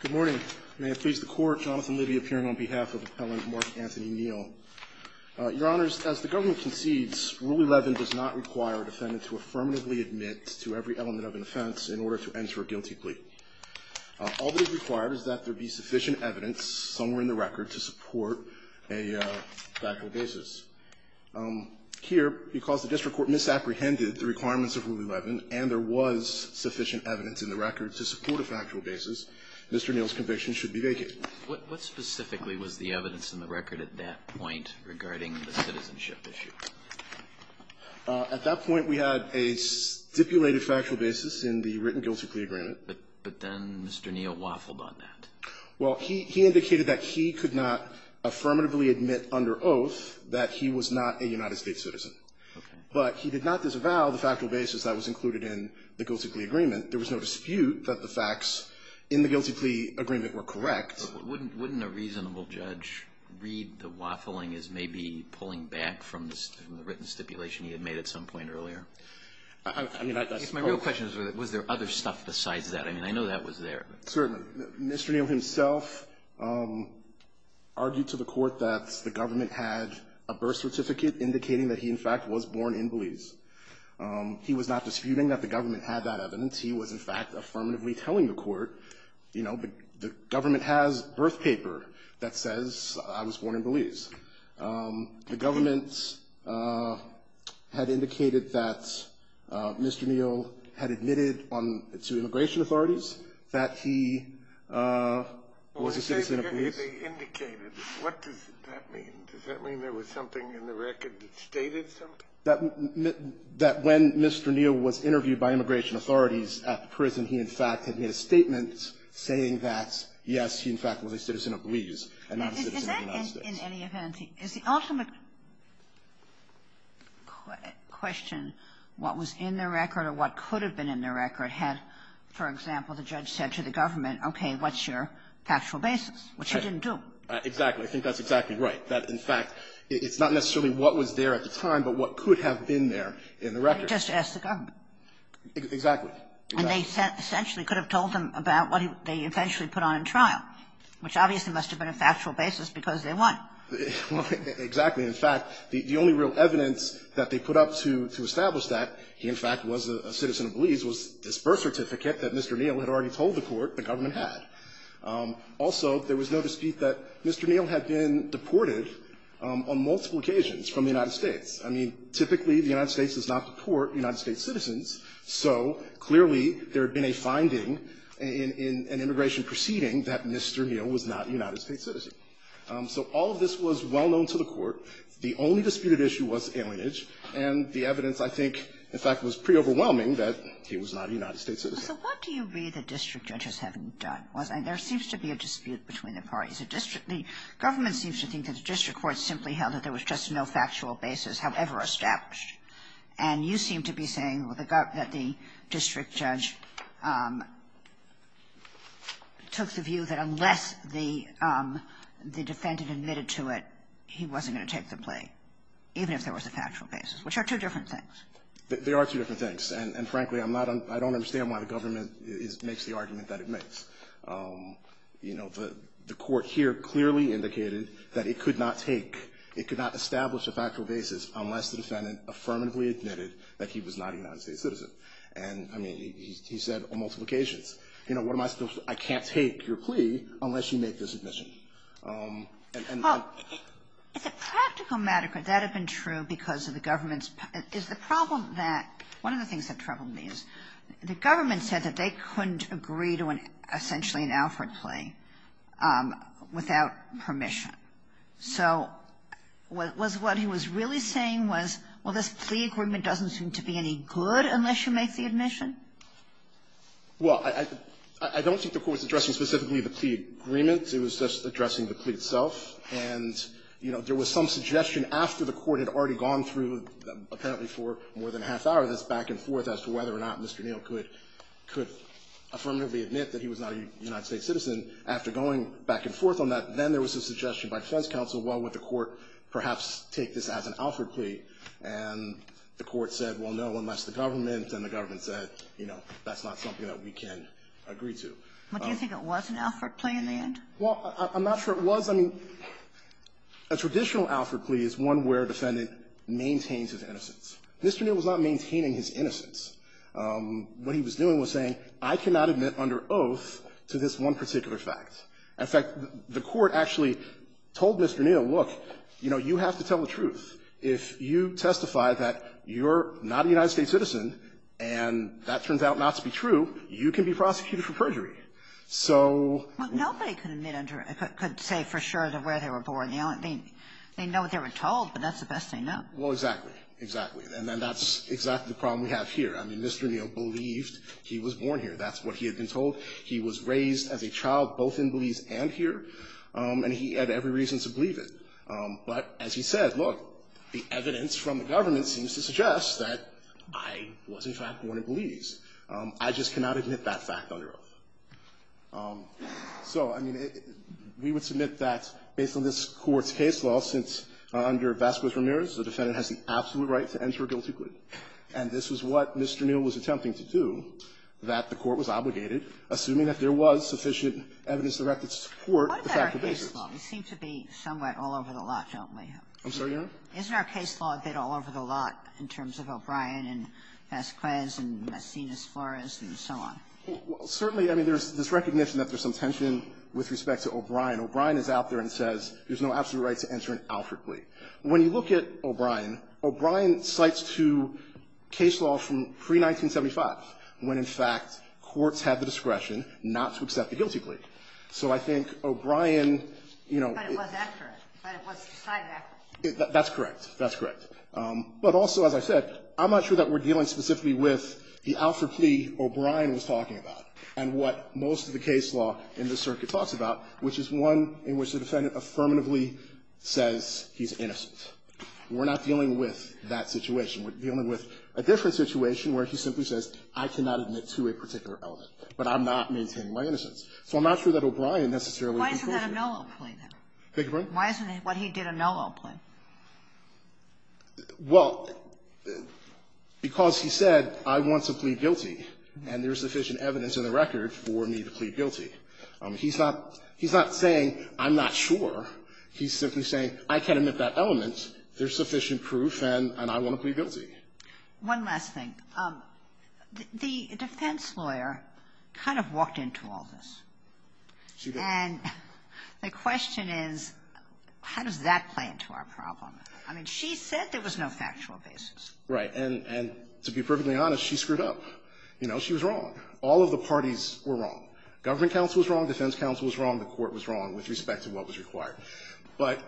Good morning. May it please the Court, Jonathan Libby appearing on behalf of Appellant Mark Anthony Neal. Your Honors, as the government concedes, Rule 11 does not require a defendant to affirmatively admit to every element of an offense in order to enter a guilty plea. All that is required is that there be sufficient evidence, somewhere in the record, to support a factual basis. Here, because the district court misapprehended the requirements of Rule 11 and there was sufficient evidence in the record to support a factual basis, Mr. Neal's conviction should be vacated. What specifically was the evidence in the record at that point regarding the citizenship issue? At that point, we had a stipulated factual basis in the written guilty plea agreement. But then Mr. Neal waffled on that. Well, he indicated that he could not affirmatively admit under oath that he was not a United States citizen. Okay. But he did not disavow the factual basis that was included in the guilty plea agreement. There was no dispute that the facts in the guilty plea agreement were correct. Wouldn't a reasonable judge read the waffling as maybe pulling back from the written stipulation he had made at some point earlier? I mean, that's part of it. My real question is, was there other stuff besides that? I mean, I know that was there. Certainly. Mr. Neal himself argued to the court that the government had a birth certificate indicating that he, in fact, was born in Belize. He was not disputing that the government had that evidence. He was, in fact, affirmatively telling the court, you know, the government has birth paper that says I was born in Belize. The government had indicated that Mr. Neal had admitted to immigration authorities that he was a citizen of Belize. What does that mean? Does that mean there was something in the record that stated something? That when Mr. Neal was interviewed by immigration authorities at the prison, he, in fact, had made a statement saying that, yes, he, in fact, was a citizen of Belize and not a citizen of the United States. In any event, is the ultimate question, what was in the record or what could have been in the record, had, for example, the judge said to the government, okay, what's your factual basis, which he didn't do? Exactly. I think that's exactly right. That, in fact, it's not necessarily what was there at the time, but what could have been there in the record. He just asked the government. Exactly. And they essentially could have told them about what they eventually put on in trial, which obviously must have been a factual basis because they won. Exactly. In fact, the only real evidence that they put up to establish that he, in fact, was a citizen of Belize was this birth certificate that Mr. Neal had already told the court the government had. Also, there was no dispute that Mr. Neal had been deported on multiple occasions from the United States. I mean, typically the United States does not deport United States citizens, so clearly there had been a finding in an immigration proceeding that Mr. Neal was not a United States citizen. So all of this was well known to the court. The only disputed issue was alienage, and the evidence, I think, in fact, was pretty overwhelming that he was not a United States citizen. So what do you read the district judges having done? There seems to be a dispute between the parties. The government seems to think that the district courts simply held that there was just no factual basis, however established. And you seem to be saying that the district judge took the view that unless the defendant admitted to it, he wasn't going to take the plea, even if there was a factual basis, which are two different things. There are two different things. And, frankly, I'm not un — I don't understand why the government makes the argument that it makes. You know, the court here clearly indicated that it could not take, it could not establish a factual basis unless the defendant affirmatively admitted that he was not a United States citizen. And, I mean, he said on multiple occasions, you know, what am I supposed to — I can't take your plea unless you make this admission. And I'm — Kagan. It's a practical matter, but that had been true because of the government's — is the problem that — one of the things that troubled me is the government said that they couldn't agree to an — essentially an Alfred plea without permission. So was what he was really saying was, well, this plea agreement doesn't seem to be any good unless you make the admission? Well, I don't think the Court's addressing specifically the plea agreement. It was just addressing the plea itself. And, you know, there was some suggestion after the Court had already gone through apparently for more than a half-hour, this back-and-forth as to whether or not Mr. Neal could affirmatively admit that he was not a United States citizen. After going back and forth on that, then there was a suggestion by defense counsel, well, would the Court perhaps take this as an Alfred plea? And the Court said, well, no, unless the government. And the government said, you know, that's not something that we can agree to. But do you think it was an Alfred plea in the end? Well, I'm not sure it was. I mean, a traditional Alfred plea is one where a defendant maintains his innocence. Mr. Neal was not maintaining his innocence. What he was doing was saying I cannot admit under oath to this one particular fact. In fact, the Court actually told Mr. Neal, look, you know, you have to tell the truth. If you testify that you're not a United States citizen and that turns out not to be true, you can be prosecuted for perjury. So we're not going to admit under oath. Nobody could say for sure where they were born. They know what they were told, but that's the best they know. Well, exactly. Exactly. And then that's exactly the problem we have here. I mean, Mr. Neal believed he was born here. That's what he had been told. He was raised as a child both in Belize and here. And he had every reason to believe it. But as he said, look, the evidence from the government seems to suggest that I was, in fact, born in Belize. I just cannot admit that fact under oath. So, I mean, we would submit that, based on this Court's case law, since under Vasquez-Ramirez, the defendant has the absolute right to enter a guilty plea. And this was what Mr. Neal was attempting to do, that the Court was obligated, assuming that there was sufficient evidence to support the fact of the case. What about our case law? We seem to be somewhat all over the lot, don't we? I'm sorry, Your Honor? Isn't our case law a bit all over the lot in terms of O'Brien and Vasquez and Messina-Flores and so on? Well, certainly, I mean, there's this recognition that there's some tension with respect to O'Brien. O'Brien is out there and says there's no absolute right to enter an Alfred plea. When you look at O'Brien, O'Brien cites two case laws from pre-1975, when, in fact, courts had the discretion not to accept a guilty plea. So I think O'Brien, you know — But it was accurate. But it was decided accurately. That's correct. That's correct. But also, as I said, I'm not sure that we're dealing specifically with the Alfred plea O'Brien was talking about and what most of the case law in this circuit talks about, which is one in which the defendant affirmatively says he's innocent. We're not dealing with that situation. We're dealing with a different situation where he simply says, I cannot admit to a particular element, but I'm not maintaining my innocence. So I'm not sure that O'Brien necessarily can prove it. Why isn't that a no-law plea, then? Thank you, Your Honor? Why isn't it what he did a no-law plea? Well, because he said, I want to plead guilty, and there's sufficient evidence in the record for me to plead guilty. He's not — he's not saying, I'm not sure. He's simply saying, I can't admit that element. There's sufficient proof, and I want to plead guilty. One last thing. The defense lawyer kind of walked into all this. She did. And the question is, how does that play into our problem? I mean, she said there was no factual basis. Right. And to be perfectly honest, she screwed up. You know, she was wrong. All of the parties were wrong. Government counsel was wrong, defense counsel was wrong, the Court was wrong with respect to what was required. But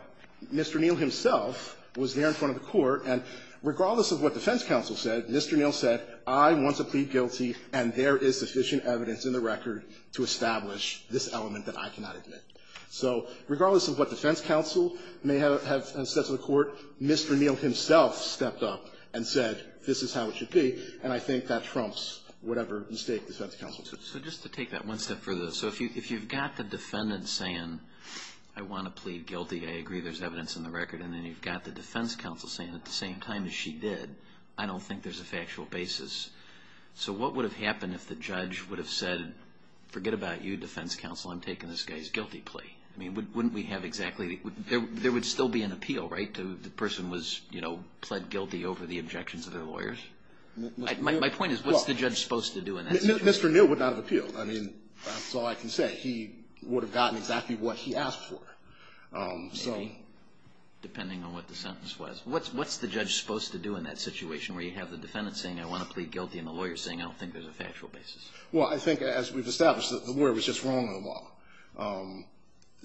Mr. Neal himself was there in front of the Court, and regardless of what defense counsel said, Mr. Neal said, I want to plead guilty, and there is sufficient evidence in the record to establish this element that I cannot admit. So regardless of what defense counsel may have said to the Court, Mr. Neal himself stepped up and said, this is how it should be, and I think that trumps whatever mistake defense counsel took. So just to take that one step further, so if you've got the defendant saying, I want to plead guilty, I agree there's evidence in the record, and then you've got the defense counsel saying at the same time as she did, I don't think there's a factual basis. So what would have happened if the judge would have said, forget about you, defense counsel, I'm taking this guy's guilty plea? I mean, wouldn't we have exactly, there would still be an appeal, right, to the person was, you know, pled guilty over the objections of their lawyers? My point is, what's the judge supposed to do in that situation? Mr. Neal would not have appealed. I mean, that's all I can say. He would have gotten exactly what he asked for. So the Maybe, depending on what the sentence was. What's the judge supposed to do in that situation where you have the defendant saying, I want to plead guilty, and the lawyer saying, I don't think there's a factual basis? Well, I think as we've established, the lawyer was just wrong in the law.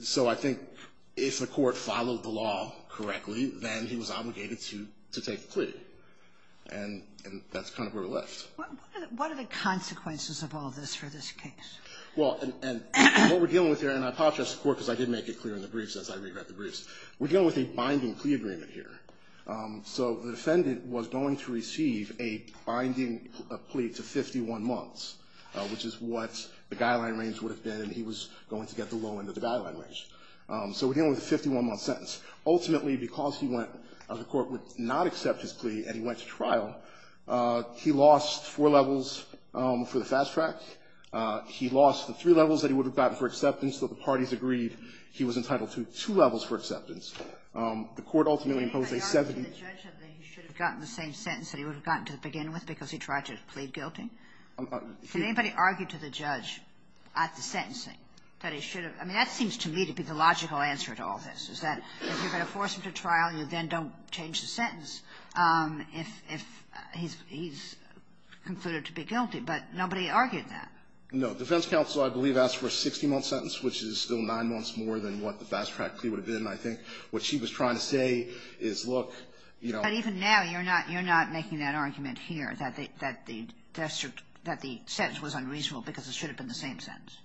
So I think if the Court followed the law correctly, then he was obligated to take the plea. And that's kind of where we're left. What are the consequences of all this for this case? Well, and what we're dealing with here, and I apologize to the Court because I did make it clear in the briefs, as I read about the briefs. We're dealing with a binding plea agreement here. So the defendant was going to receive a binding plea to 51 months, which is what the guideline range would have been, and he was going to get the low end of the guideline range. So we're dealing with a 51-month sentence. Ultimately, because he went, the Court would not accept his plea, and he went to four levels for the fast track. He lost the three levels that he would have gotten for acceptance, so the parties agreed he was entitled to two levels for acceptance. The Court ultimately imposed a 70- Can anybody argue to the judge that he should have gotten the same sentence that he would have gotten to begin with because he tried to plead guilty? Can anybody argue to the judge at the sentencing that he should have? I mean, that seems to me to be the logical answer to all this, is that if you're going to force him to trial, you then don't change the sentence. If he's concluded to be guilty. But nobody argued that. No. Defense counsel, I believe, asked for a 60-month sentence, which is still nine months more than what the fast-track plea would have been, I think. What she was trying to say is, look, you know ---- But even now, you're not making that argument here, that the sentence was unreasonable because it should have been the same sentence.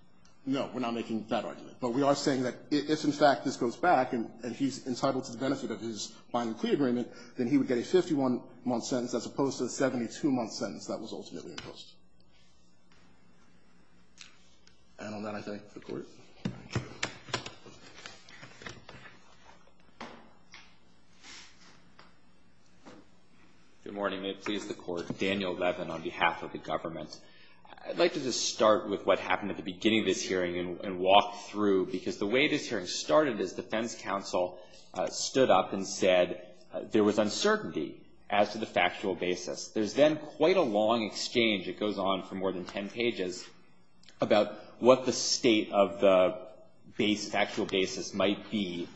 No. We're not making that argument. But we are saying that if, in fact, this goes back and he's entitled to the benefit of his binding plea agreement, then he would get a 51-month sentence as opposed to the 72-month sentence that was ultimately imposed. And on that, I thank the Court. Good morning. May it please the Court. Daniel Levin on behalf of the government. I'd like to just start with what happened at the beginning of this hearing and walk through, because the way this hearing started is defense counsel stood up and said there was uncertainty as to the factual basis. There's then quite a long exchange that goes on for more than 10 pages about what the state of the factual basis might be.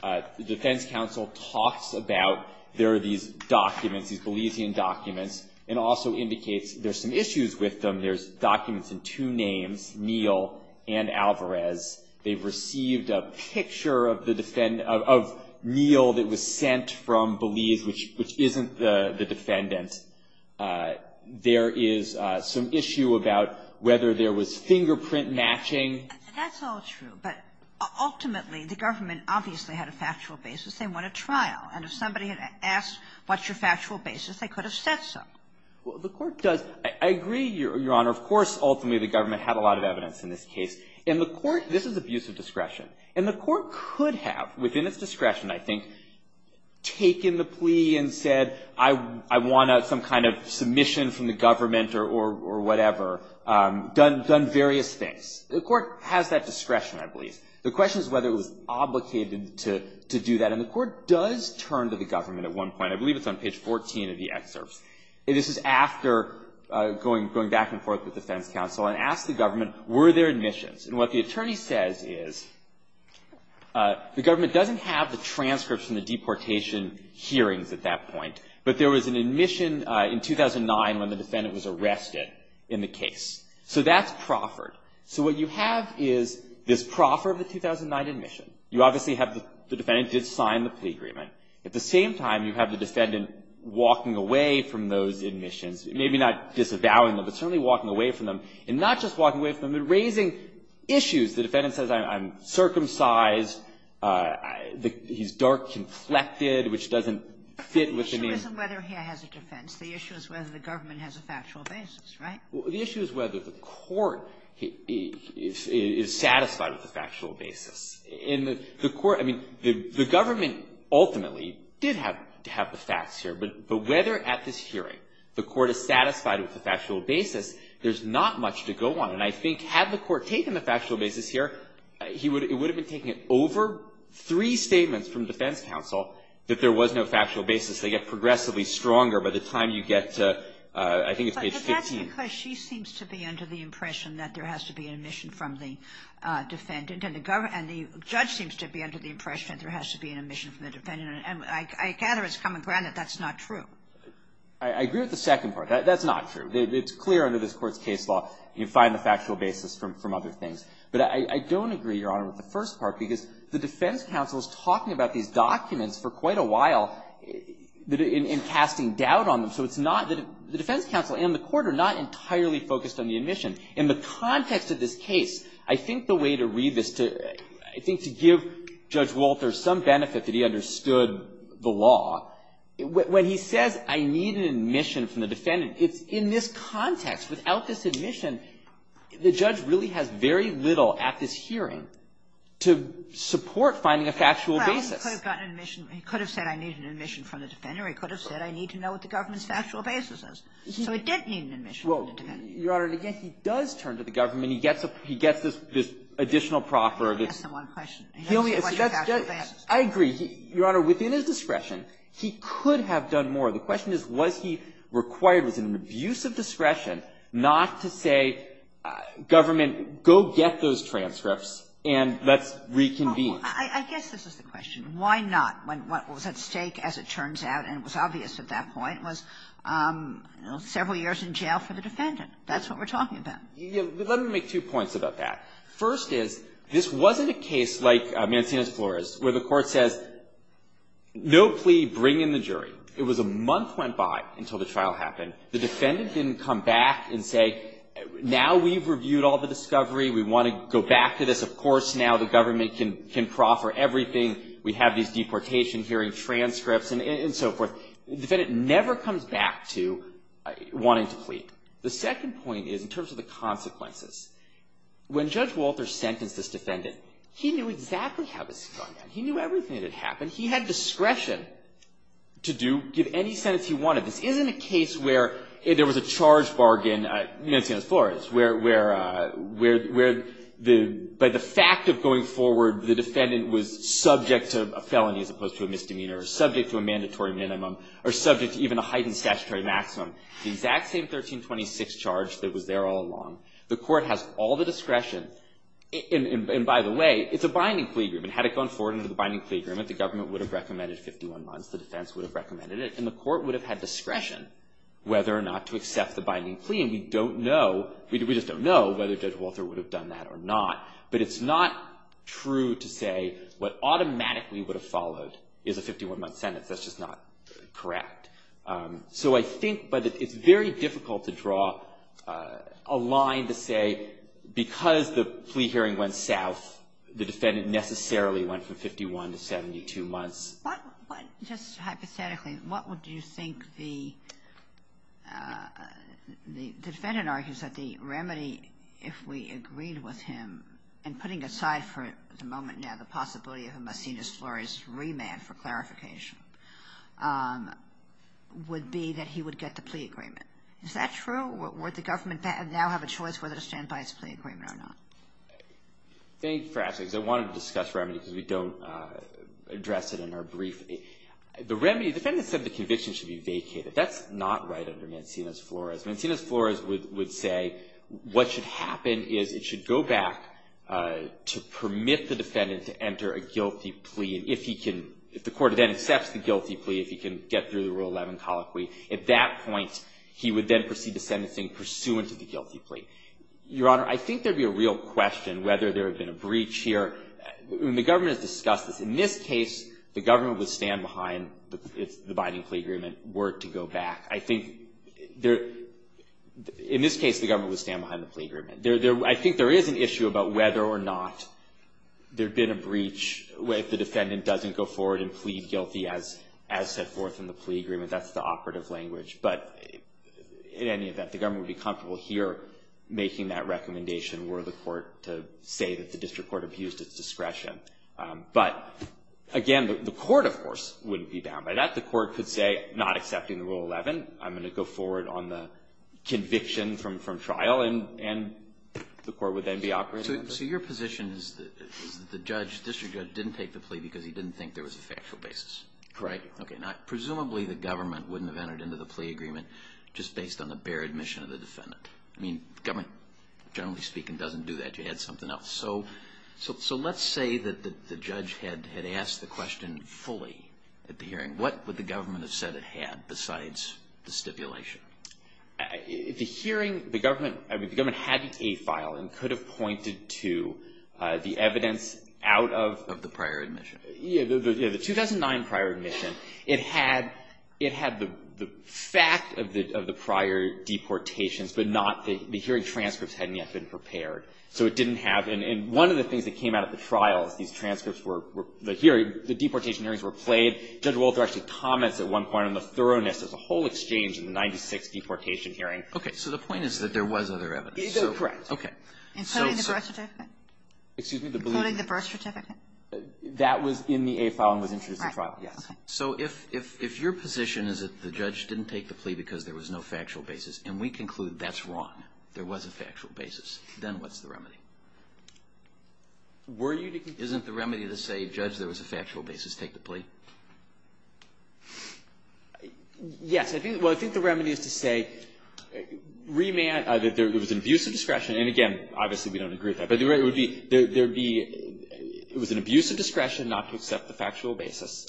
The defense counsel talks about there are these documents, these Belizean documents, and also indicates there's some issues with them. There's documents in two names, Neel and Alvarez. They've received a picture of Neel that was sent from Belize, which isn't the defendant. There is some issue about whether there was fingerprint matching. That's all true. But ultimately, the government obviously had a factual basis. They want a trial. And if somebody had asked, what's your factual basis, they could have said so. Well, the Court does — I agree, Your Honor. Of course, ultimately, the government had a lot of evidence in this case. And the Court — this is abuse of discretion. And the Court could have, within its discretion, I think, taken the plea and said, I want some kind of submission from the government or whatever, done various things. The Court has that discretion, I believe. The question is whether it was obligated to do that. And the Court does turn to the government at one point. I believe it's on page 14 of the excerpts. This is after going back and forth with the defense counsel and asked the government, were there admissions? And what the attorney says is, the government doesn't have the transcripts from the deportation hearings at that point. But there was an admission in 2009 when the defendant was arrested in the case. So that's proffered. So what you have is this proffer of the 2009 admission. You obviously have the defendant did sign the plea agreement. At the same time, you have the defendant walking away from those admissions. Maybe not disavowing them, but certainly walking away from them. And not just walking away from them, but raising issues. The defendant says, I'm circumcised, he's dark-conflicted, which doesn't fit with the name. The issue isn't whether he has a defense. The issue is whether the government has a factual basis, right? Well, the issue is whether the Court is satisfied with the factual basis. In the Court, I mean, the government ultimately did have the facts here. But whether at this hearing the Court is satisfied with the factual basis, there's not much to go on. And I think had the Court taken the factual basis here, it would have been taken over three statements from defense counsel that there was no factual basis. They get progressively stronger by the time you get to, I think it's page 15. Because she seems to be under the impression that there has to be an admission from the defendant, and the judge seems to be under the impression that there has to be an admission from the defendant. And I gather it's common ground that that's not true. I agree with the second part. That's not true. It's clear under this Court's case law, you find the factual basis from other things. But I don't agree, Your Honor, with the first part, because the defense counsel is talking about these documents for quite a while in casting doubt on them. So it's not that the defense counsel and the Court are not entirely focused on the admission. In the context of this case, I think the way to read this, I think to give Judge Walter some benefit that he understood the law, when he says, I need an admission from the defendant, it's in this context, without this admission, the judge really has very little at this hearing to support finding a factual basis. He could have said I need an admission from the defendant, or he could have said I need to know what the government's factual basis is. So it didn't need an admission from the defendant. Well, Your Honor, and again, he does turn to the government, and he gets this additional proffer of this. That's the one question. He only asked the question of factual basis. I agree. Your Honor, within his discretion, he could have done more. The question is, was he required, was it an abuse of discretion not to say, government, go get those transcripts and let's reconvene? I guess this is the question. Why not? What was at stake, as it turns out, and it was obvious at that point, was several years in jail for the defendant. That's what we're talking about. Let me make two points about that. First is, this wasn't a case like Mancini v. Flores, where the court says, no plea, bring in the jury. It was a month went by until the trial happened. The defendant didn't come back and say, now we've reviewed all the discovery. We want to go back to this. Of course, now the government can proffer everything. We have these deportation hearing transcripts and so forth. The defendant never comes back to wanting to plead. The second point is, in terms of the consequences, when Judge Walter sentenced this defendant, he knew exactly how this was going to end. He knew everything that had happened. He had discretion to give any sentence he wanted. This isn't a case where there was a charge bargain, Mancini v. Flores, where by the fact of going forward, the defendant was subject to a felony as opposed to a misdemeanor, or subject to a mandatory minimum, or subject to even a heightened statutory maximum. The exact same 1326 charge that was there all along. The court has all the discretion. And by the way, it's a binding plea agreement. Had it gone forward into the binding plea agreement, the government would have recommended 51 months. The defense would have recommended it. And the court would have had discretion whether or not to accept the binding plea. And we don't know, we just don't know whether Judge Walter would have done that or not. But it's not true to say what automatically would have followed is a 51-month sentence. That's just not correct. So I think, but it's very difficult to draw a line to say, because the plea hearing went south, the defendant necessarily went from 51 to 72 months. What, just hypothetically, what would you think the defendant argues that the remedy, if we agreed with him, and putting aside for the moment now the possibility of a Macinus Flores remand for clarification, would be that he would get the plea agreement. Is that true? Would the government now have a choice whether to stand by its plea agreement or not? I think perhaps, because I wanted to discuss remedy because we don't address it in our brief, the remedy, the defendant said the conviction should be vacated. That's not right under Macinus Flores. Macinus Flores would say what should happen is it should go back to permit the defendant to enter a guilty plea. And if he can, if the court then accepts the guilty plea, if he can get through the Rule 11 colloquy, at that point, he would then proceed to sentencing pursuant to the guilty plea. Your Honor, I think there would be a real question whether there would have been a breach here. The government has discussed this. In this case, the government would stand behind the binding plea agreement were it to go back. I think in this case, the government would stand behind the plea agreement. I think there is an issue about whether or not there'd been a breach if the defendant doesn't go forward and plead guilty as set forth in the plea agreement. That's the operative language. But in any event, the government would be comfortable here making that recommendation were the court to say that the district court abused its discretion. But again, the court, of course, wouldn't be bound by that. The court could say, not accepting the Rule 11, I'm going to go forward on the conviction from trial, and the court would then be operative. So your position is that the judge, district judge, didn't take the plea because he didn't think there was a factual basis? Correct. Okay. Now, presumably, the government wouldn't have entered into the plea agreement just based on the bare admission of the defendant. I mean, government, generally speaking, doesn't do that. You had something else. So let's say that the judge had asked the question fully at the hearing. What would the government have said it had besides the stipulation? The hearing, the government, I mean, the government had a file and could have pointed to the evidence out of the prior admission. Yeah, the 2009 prior admission, it had the fact of the prior deportations, but not the hearing transcripts hadn't yet been prepared. So it didn't have, and one of the things that came out of the trial is these transcripts were, the deportation hearings were played. Judge Wolter actually comments at one point on the thoroughness of the whole exchange in the 96th deportation hearing. Okay. So the point is that there was other evidence. Correct. Okay. Including the birth certificate? Excuse me? Including the birth certificate? That was in the A file and was introduced at trial. Yes. So if your position is that the judge didn't take the plea because there was no factual basis, and we conclude that's wrong, there was a factual basis, then what's the remedy? Weren't you to, isn't the remedy to say, judge, there was a factual basis, take the plea? Yes. I think, well, I think the remedy is to say, remand, that there was an abuse of discretion, and again, obviously we don't agree with that, but there would be, there would be, it was an abuse of discretion not to accept the factual basis,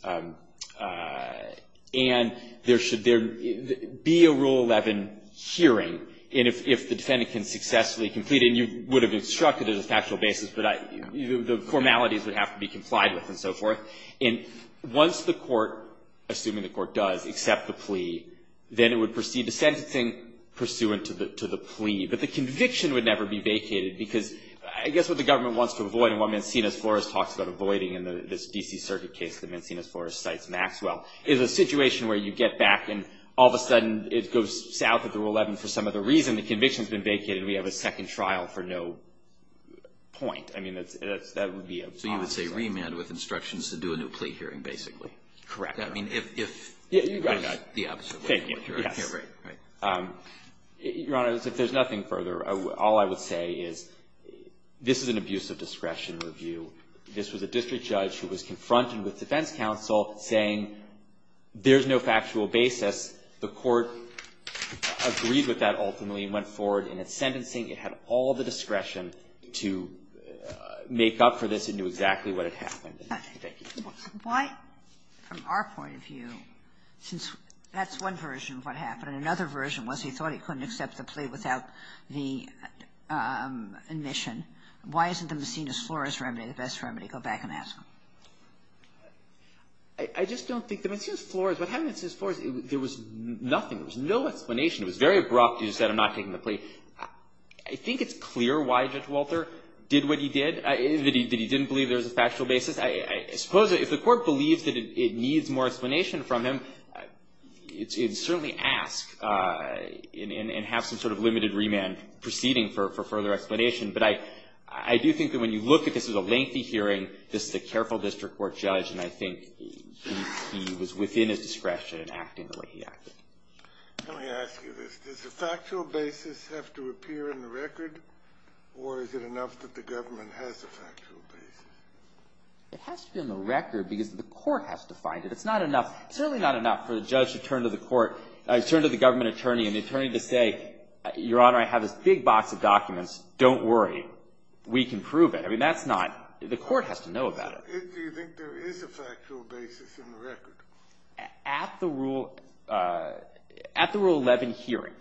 and there should there be a Rule 11 hearing, and if the defendant can successfully complete it, and you would have instructed it as a factual basis, but the formalities would have to be complied with and so forth, and once the court, assuming the court does, accepts the plea, then it would proceed to sentencing pursuant to the plea. But the conviction would never be vacated, because I guess what the government wants to avoid, and what Mancinas-Flores talks about avoiding in this D.C. Circuit case that Mancinas-Flores cites Maxwell, is a situation where you get back and all of a sudden it goes south of the Rule 11 for some other reason. When the conviction has been vacated, we have a second trial for no point. I mean, that's, that would be a possibility. So you would say remand with instructions to do a new plea hearing, basically? Correct. I mean, if, if, the opposite way, right? Your Honor, if there's nothing further, all I would say is, this is an abuse of discretion review. This was a district judge who was confronted with defense counsel saying, there's no factual basis. The court agreed with that, ultimately, and went forward in its sentencing. It had all the discretion to make up for this. It knew exactly what had happened. Thank you. Why, from our point of view, since that's one version of what happened. And another version was he thought he couldn't accept the plea without the admission. Why isn't the Mancinas-Flores remedy the best remedy? Go back and ask him. I, I just don't think the Mancinas-Flores, what happened in Mancinas-Flores, there was nothing. There was no explanation. It was very abrupt. He just said, I'm not taking the plea. I think it's clear why Judge Walter did what he did, that he, that he didn't believe there was a factual basis. I, I suppose if the court believes that it, it needs more explanation from him, it, it'd certainly ask and, and, and have some sort of limited remand proceeding for, for further explanation. But I, I do think that when you look at this as a lengthy hearing, this is a careful district court judge, and I think he, he was within his discretion in acting the way he acted. Let me ask you this. Does the factual basis have to appear in the record, or is it enough that the government has a factual basis? It has to be on the record because the court has to find it. It's not enough, certainly not enough for the judge to turn to the court, turn to the government attorney, and the attorney to say, your honor, I have this big box of story, we can prove it. I mean, that's not, the court has to know about it. Do you think there is a factual basis in the record? At the Rule, at the Rule 11 hearing,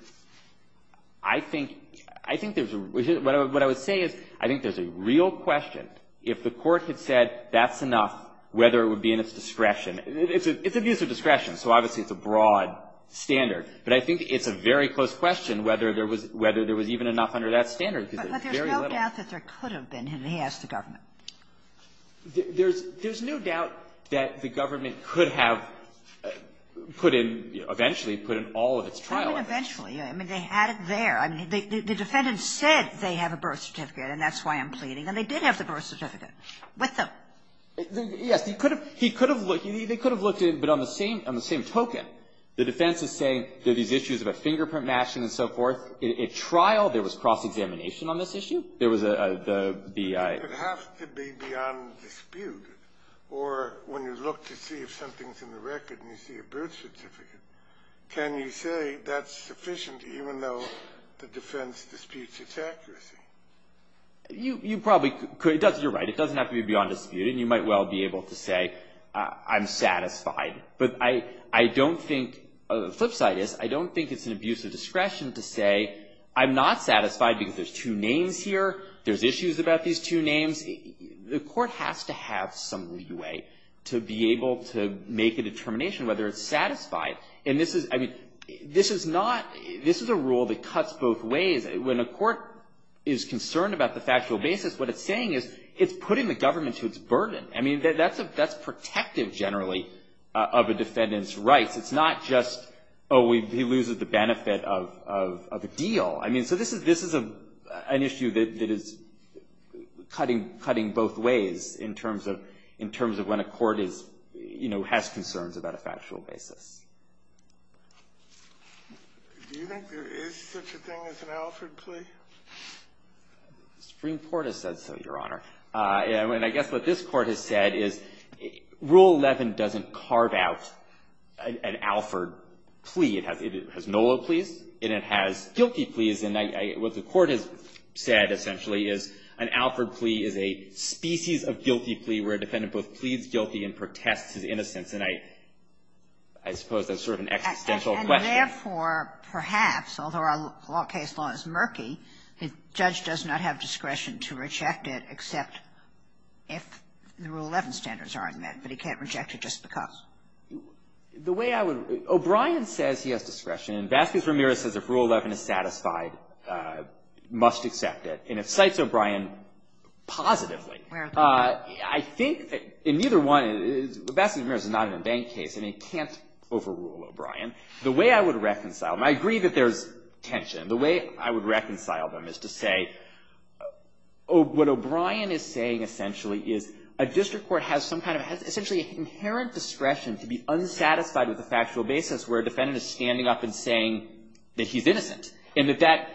I think, I think there's a, what I, what I would say is, I think there's a real question if the court had said that's enough, whether it would be in its discretion. It's, it's a, it's a use of discretion, so obviously it's a broad standard. But I think it's a very close question whether there was, whether there was even enough under that standard. But there's no doubt that there could have been, and he asked the government. There's, there's no doubt that the government could have put in, eventually put in all of its trial evidence. I mean, eventually. I mean, they had it there. I mean, the defendant said they have a birth certificate, and that's why I'm pleading. And they did have the birth certificate with them. Yes. He could have, he could have looked, they could have looked at it, but on the same, on the same token, the defense is saying there are these issues about fingerprint matching and so forth. In, in trial, there was cross-examination on this issue. There was a, a, the, the, a It has to be beyond dispute. Or when you look to see if something's in the record and you see a birth certificate, can you say that's sufficient, even though the defense disputes its accuracy? You, you probably could, you're right. It doesn't have to be beyond dispute, and you might well be able to say, I'm satisfied. But I, I don't think, the flip side is, I don't think it's an abuse of discretion to say, I'm not satisfied because there's two names here. There's issues about these two names. The court has to have some leeway to be able to make a determination whether it's satisfied. And this is, I mean, this is not, this is a rule that cuts both ways. When a court is concerned about the factual basis, what it's saying is, it's putting the government to its burden. I mean, that, that's a, that's protective, generally, of a defendant's rights. It's not just, oh, we, he loses the benefit of, of, of a deal. I mean, so this is, this is a, an issue that, that is cutting, cutting both ways in terms of, in terms of when a court is, you know, has concerns about a factual basis. Do you think there is such a thing as an Alfred plea? The Supreme Court has said so, Your Honor. And I guess what this Court has said is, Rule 11 doesn't carve out an, an Alfred plea. It has, it has no-load pleas, and it has guilty pleas. And I, I, what the Court has said, essentially, is an Alfred plea is a species of guilty plea where a defendant both pleads guilty and protests his innocence. And I, I suppose that's sort of an existential question. And therefore, perhaps, although our law, our case law is murky, the judge does not have discretion to reject it except if the Rule 11 standards are met. But he can't reject it just because. The way I would, O'Brien says he has discretion, and Vasquez-Ramirez says if Rule 11 is satisfied, must accept it. And if cites O'Brien positively, I think, in either one, Vasquez-Ramirez is not an in-bank case, and he can't overrule O'Brien. The way I would reconcile, and I agree that there's tension. The way I would reconcile them is to say, what O'Brien is saying, essentially, is a district court has some kind of, essentially, inherent discretion to be unsatisfied with the factual basis where a defendant is standing up and saying that he's innocent. And that that,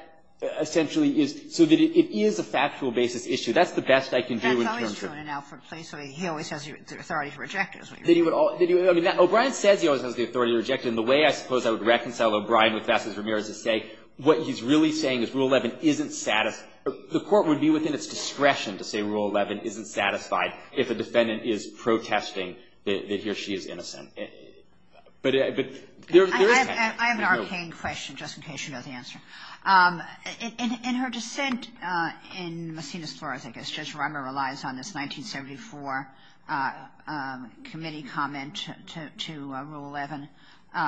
essentially, is, so that it is a factual basis issue. That's the best I can do in terms of. Kagan That's always true in an Alfred plea. So he always has the authority to reject it, is what you're saying. I mean, O'Brien says he always has the authority to reject it. And the way, I suppose, I would reconcile O'Brien with Vasquez-Ramirez is to say, what he's really saying is Rule 11 isn't satisfied. The court would be within its discretion to say Rule 11 isn't satisfied if a defendant is protesting that he or she is innocent. But there is tension. Kagan I have an arcane question, just in case you know the answer. In her dissent in Messina's floor, I guess, Judge Rummer relies on this 1974 committee comment to Rule 11,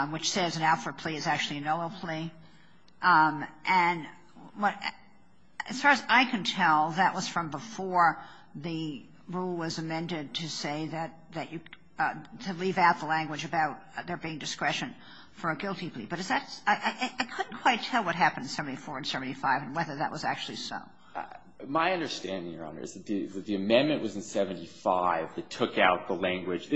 which says an Alfred plea is actually a no-law plea. And what as far as I can tell, that was from before the rule was amended to say that you, to leave out the language about there being discretion for a guilty plea. But is that, I couldn't quite tell what happened in 74 and 75 and whether that was actually so. My understanding, Your Honor, is that the amendment was in 75 that took out the language.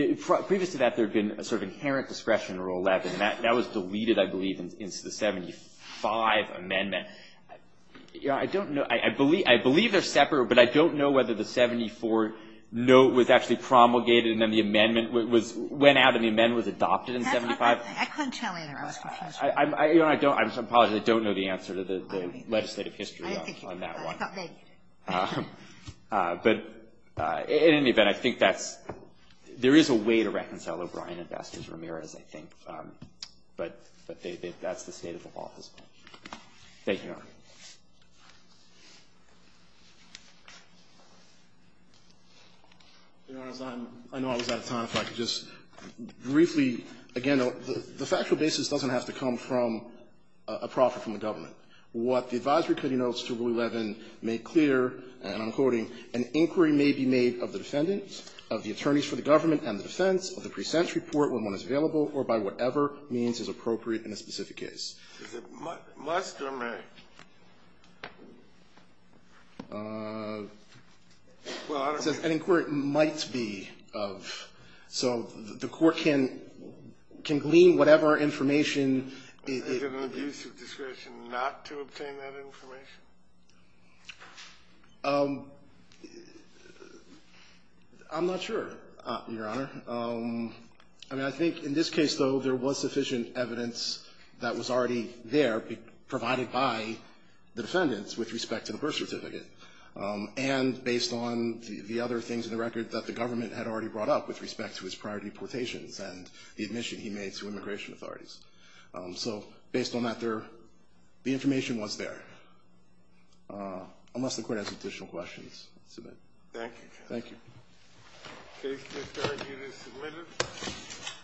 Previous to that, there had been a sort of inherent discretion in Rule 11. And that was deleted, I believe, into the 75 amendment. I don't know. I believe they're separate, but I don't know whether the 74 note was actually promulgated, and then the amendment was – went out and the amendment was adopted in 75. I couldn't tell either. I was confused. I'm sorry, I don't know the answer to the legislative history on that one. But in any event, I think that's – there is a way to reconcile O'Brien and Bastos-Ramirez, I think. But that's the state of the law as well. Thank you, Your Honor. I know I was out of time, if I could just briefly, again, the factual basis doesn't have to come from a profit from the government. What the advisory committee notes to Rule 11 make clear, and I'm quoting, an inquiry may be made of the defendant, of the attorneys for the government and the defense, of the present report when one is available, or by whatever means is appropriate in a specific case. Is it must or may? Well, I don't know. It says an inquiry might be of. So the court can glean whatever information it – Is it an abuse of discretion not to obtain that information? I'm not sure, Your Honor. I mean, I think in this case, though, there was sufficient evidence that was already there provided by the defendants with respect to the birth certificate. And based on the other things in the record that the government had already brought up with respect to his prior deportations and the admission he made to immigration authorities. So based on that, the information was there. Unless the court has additional questions, I'll submit. Thank you, Your Honor. Thank you. Case 5-3, unit submitted.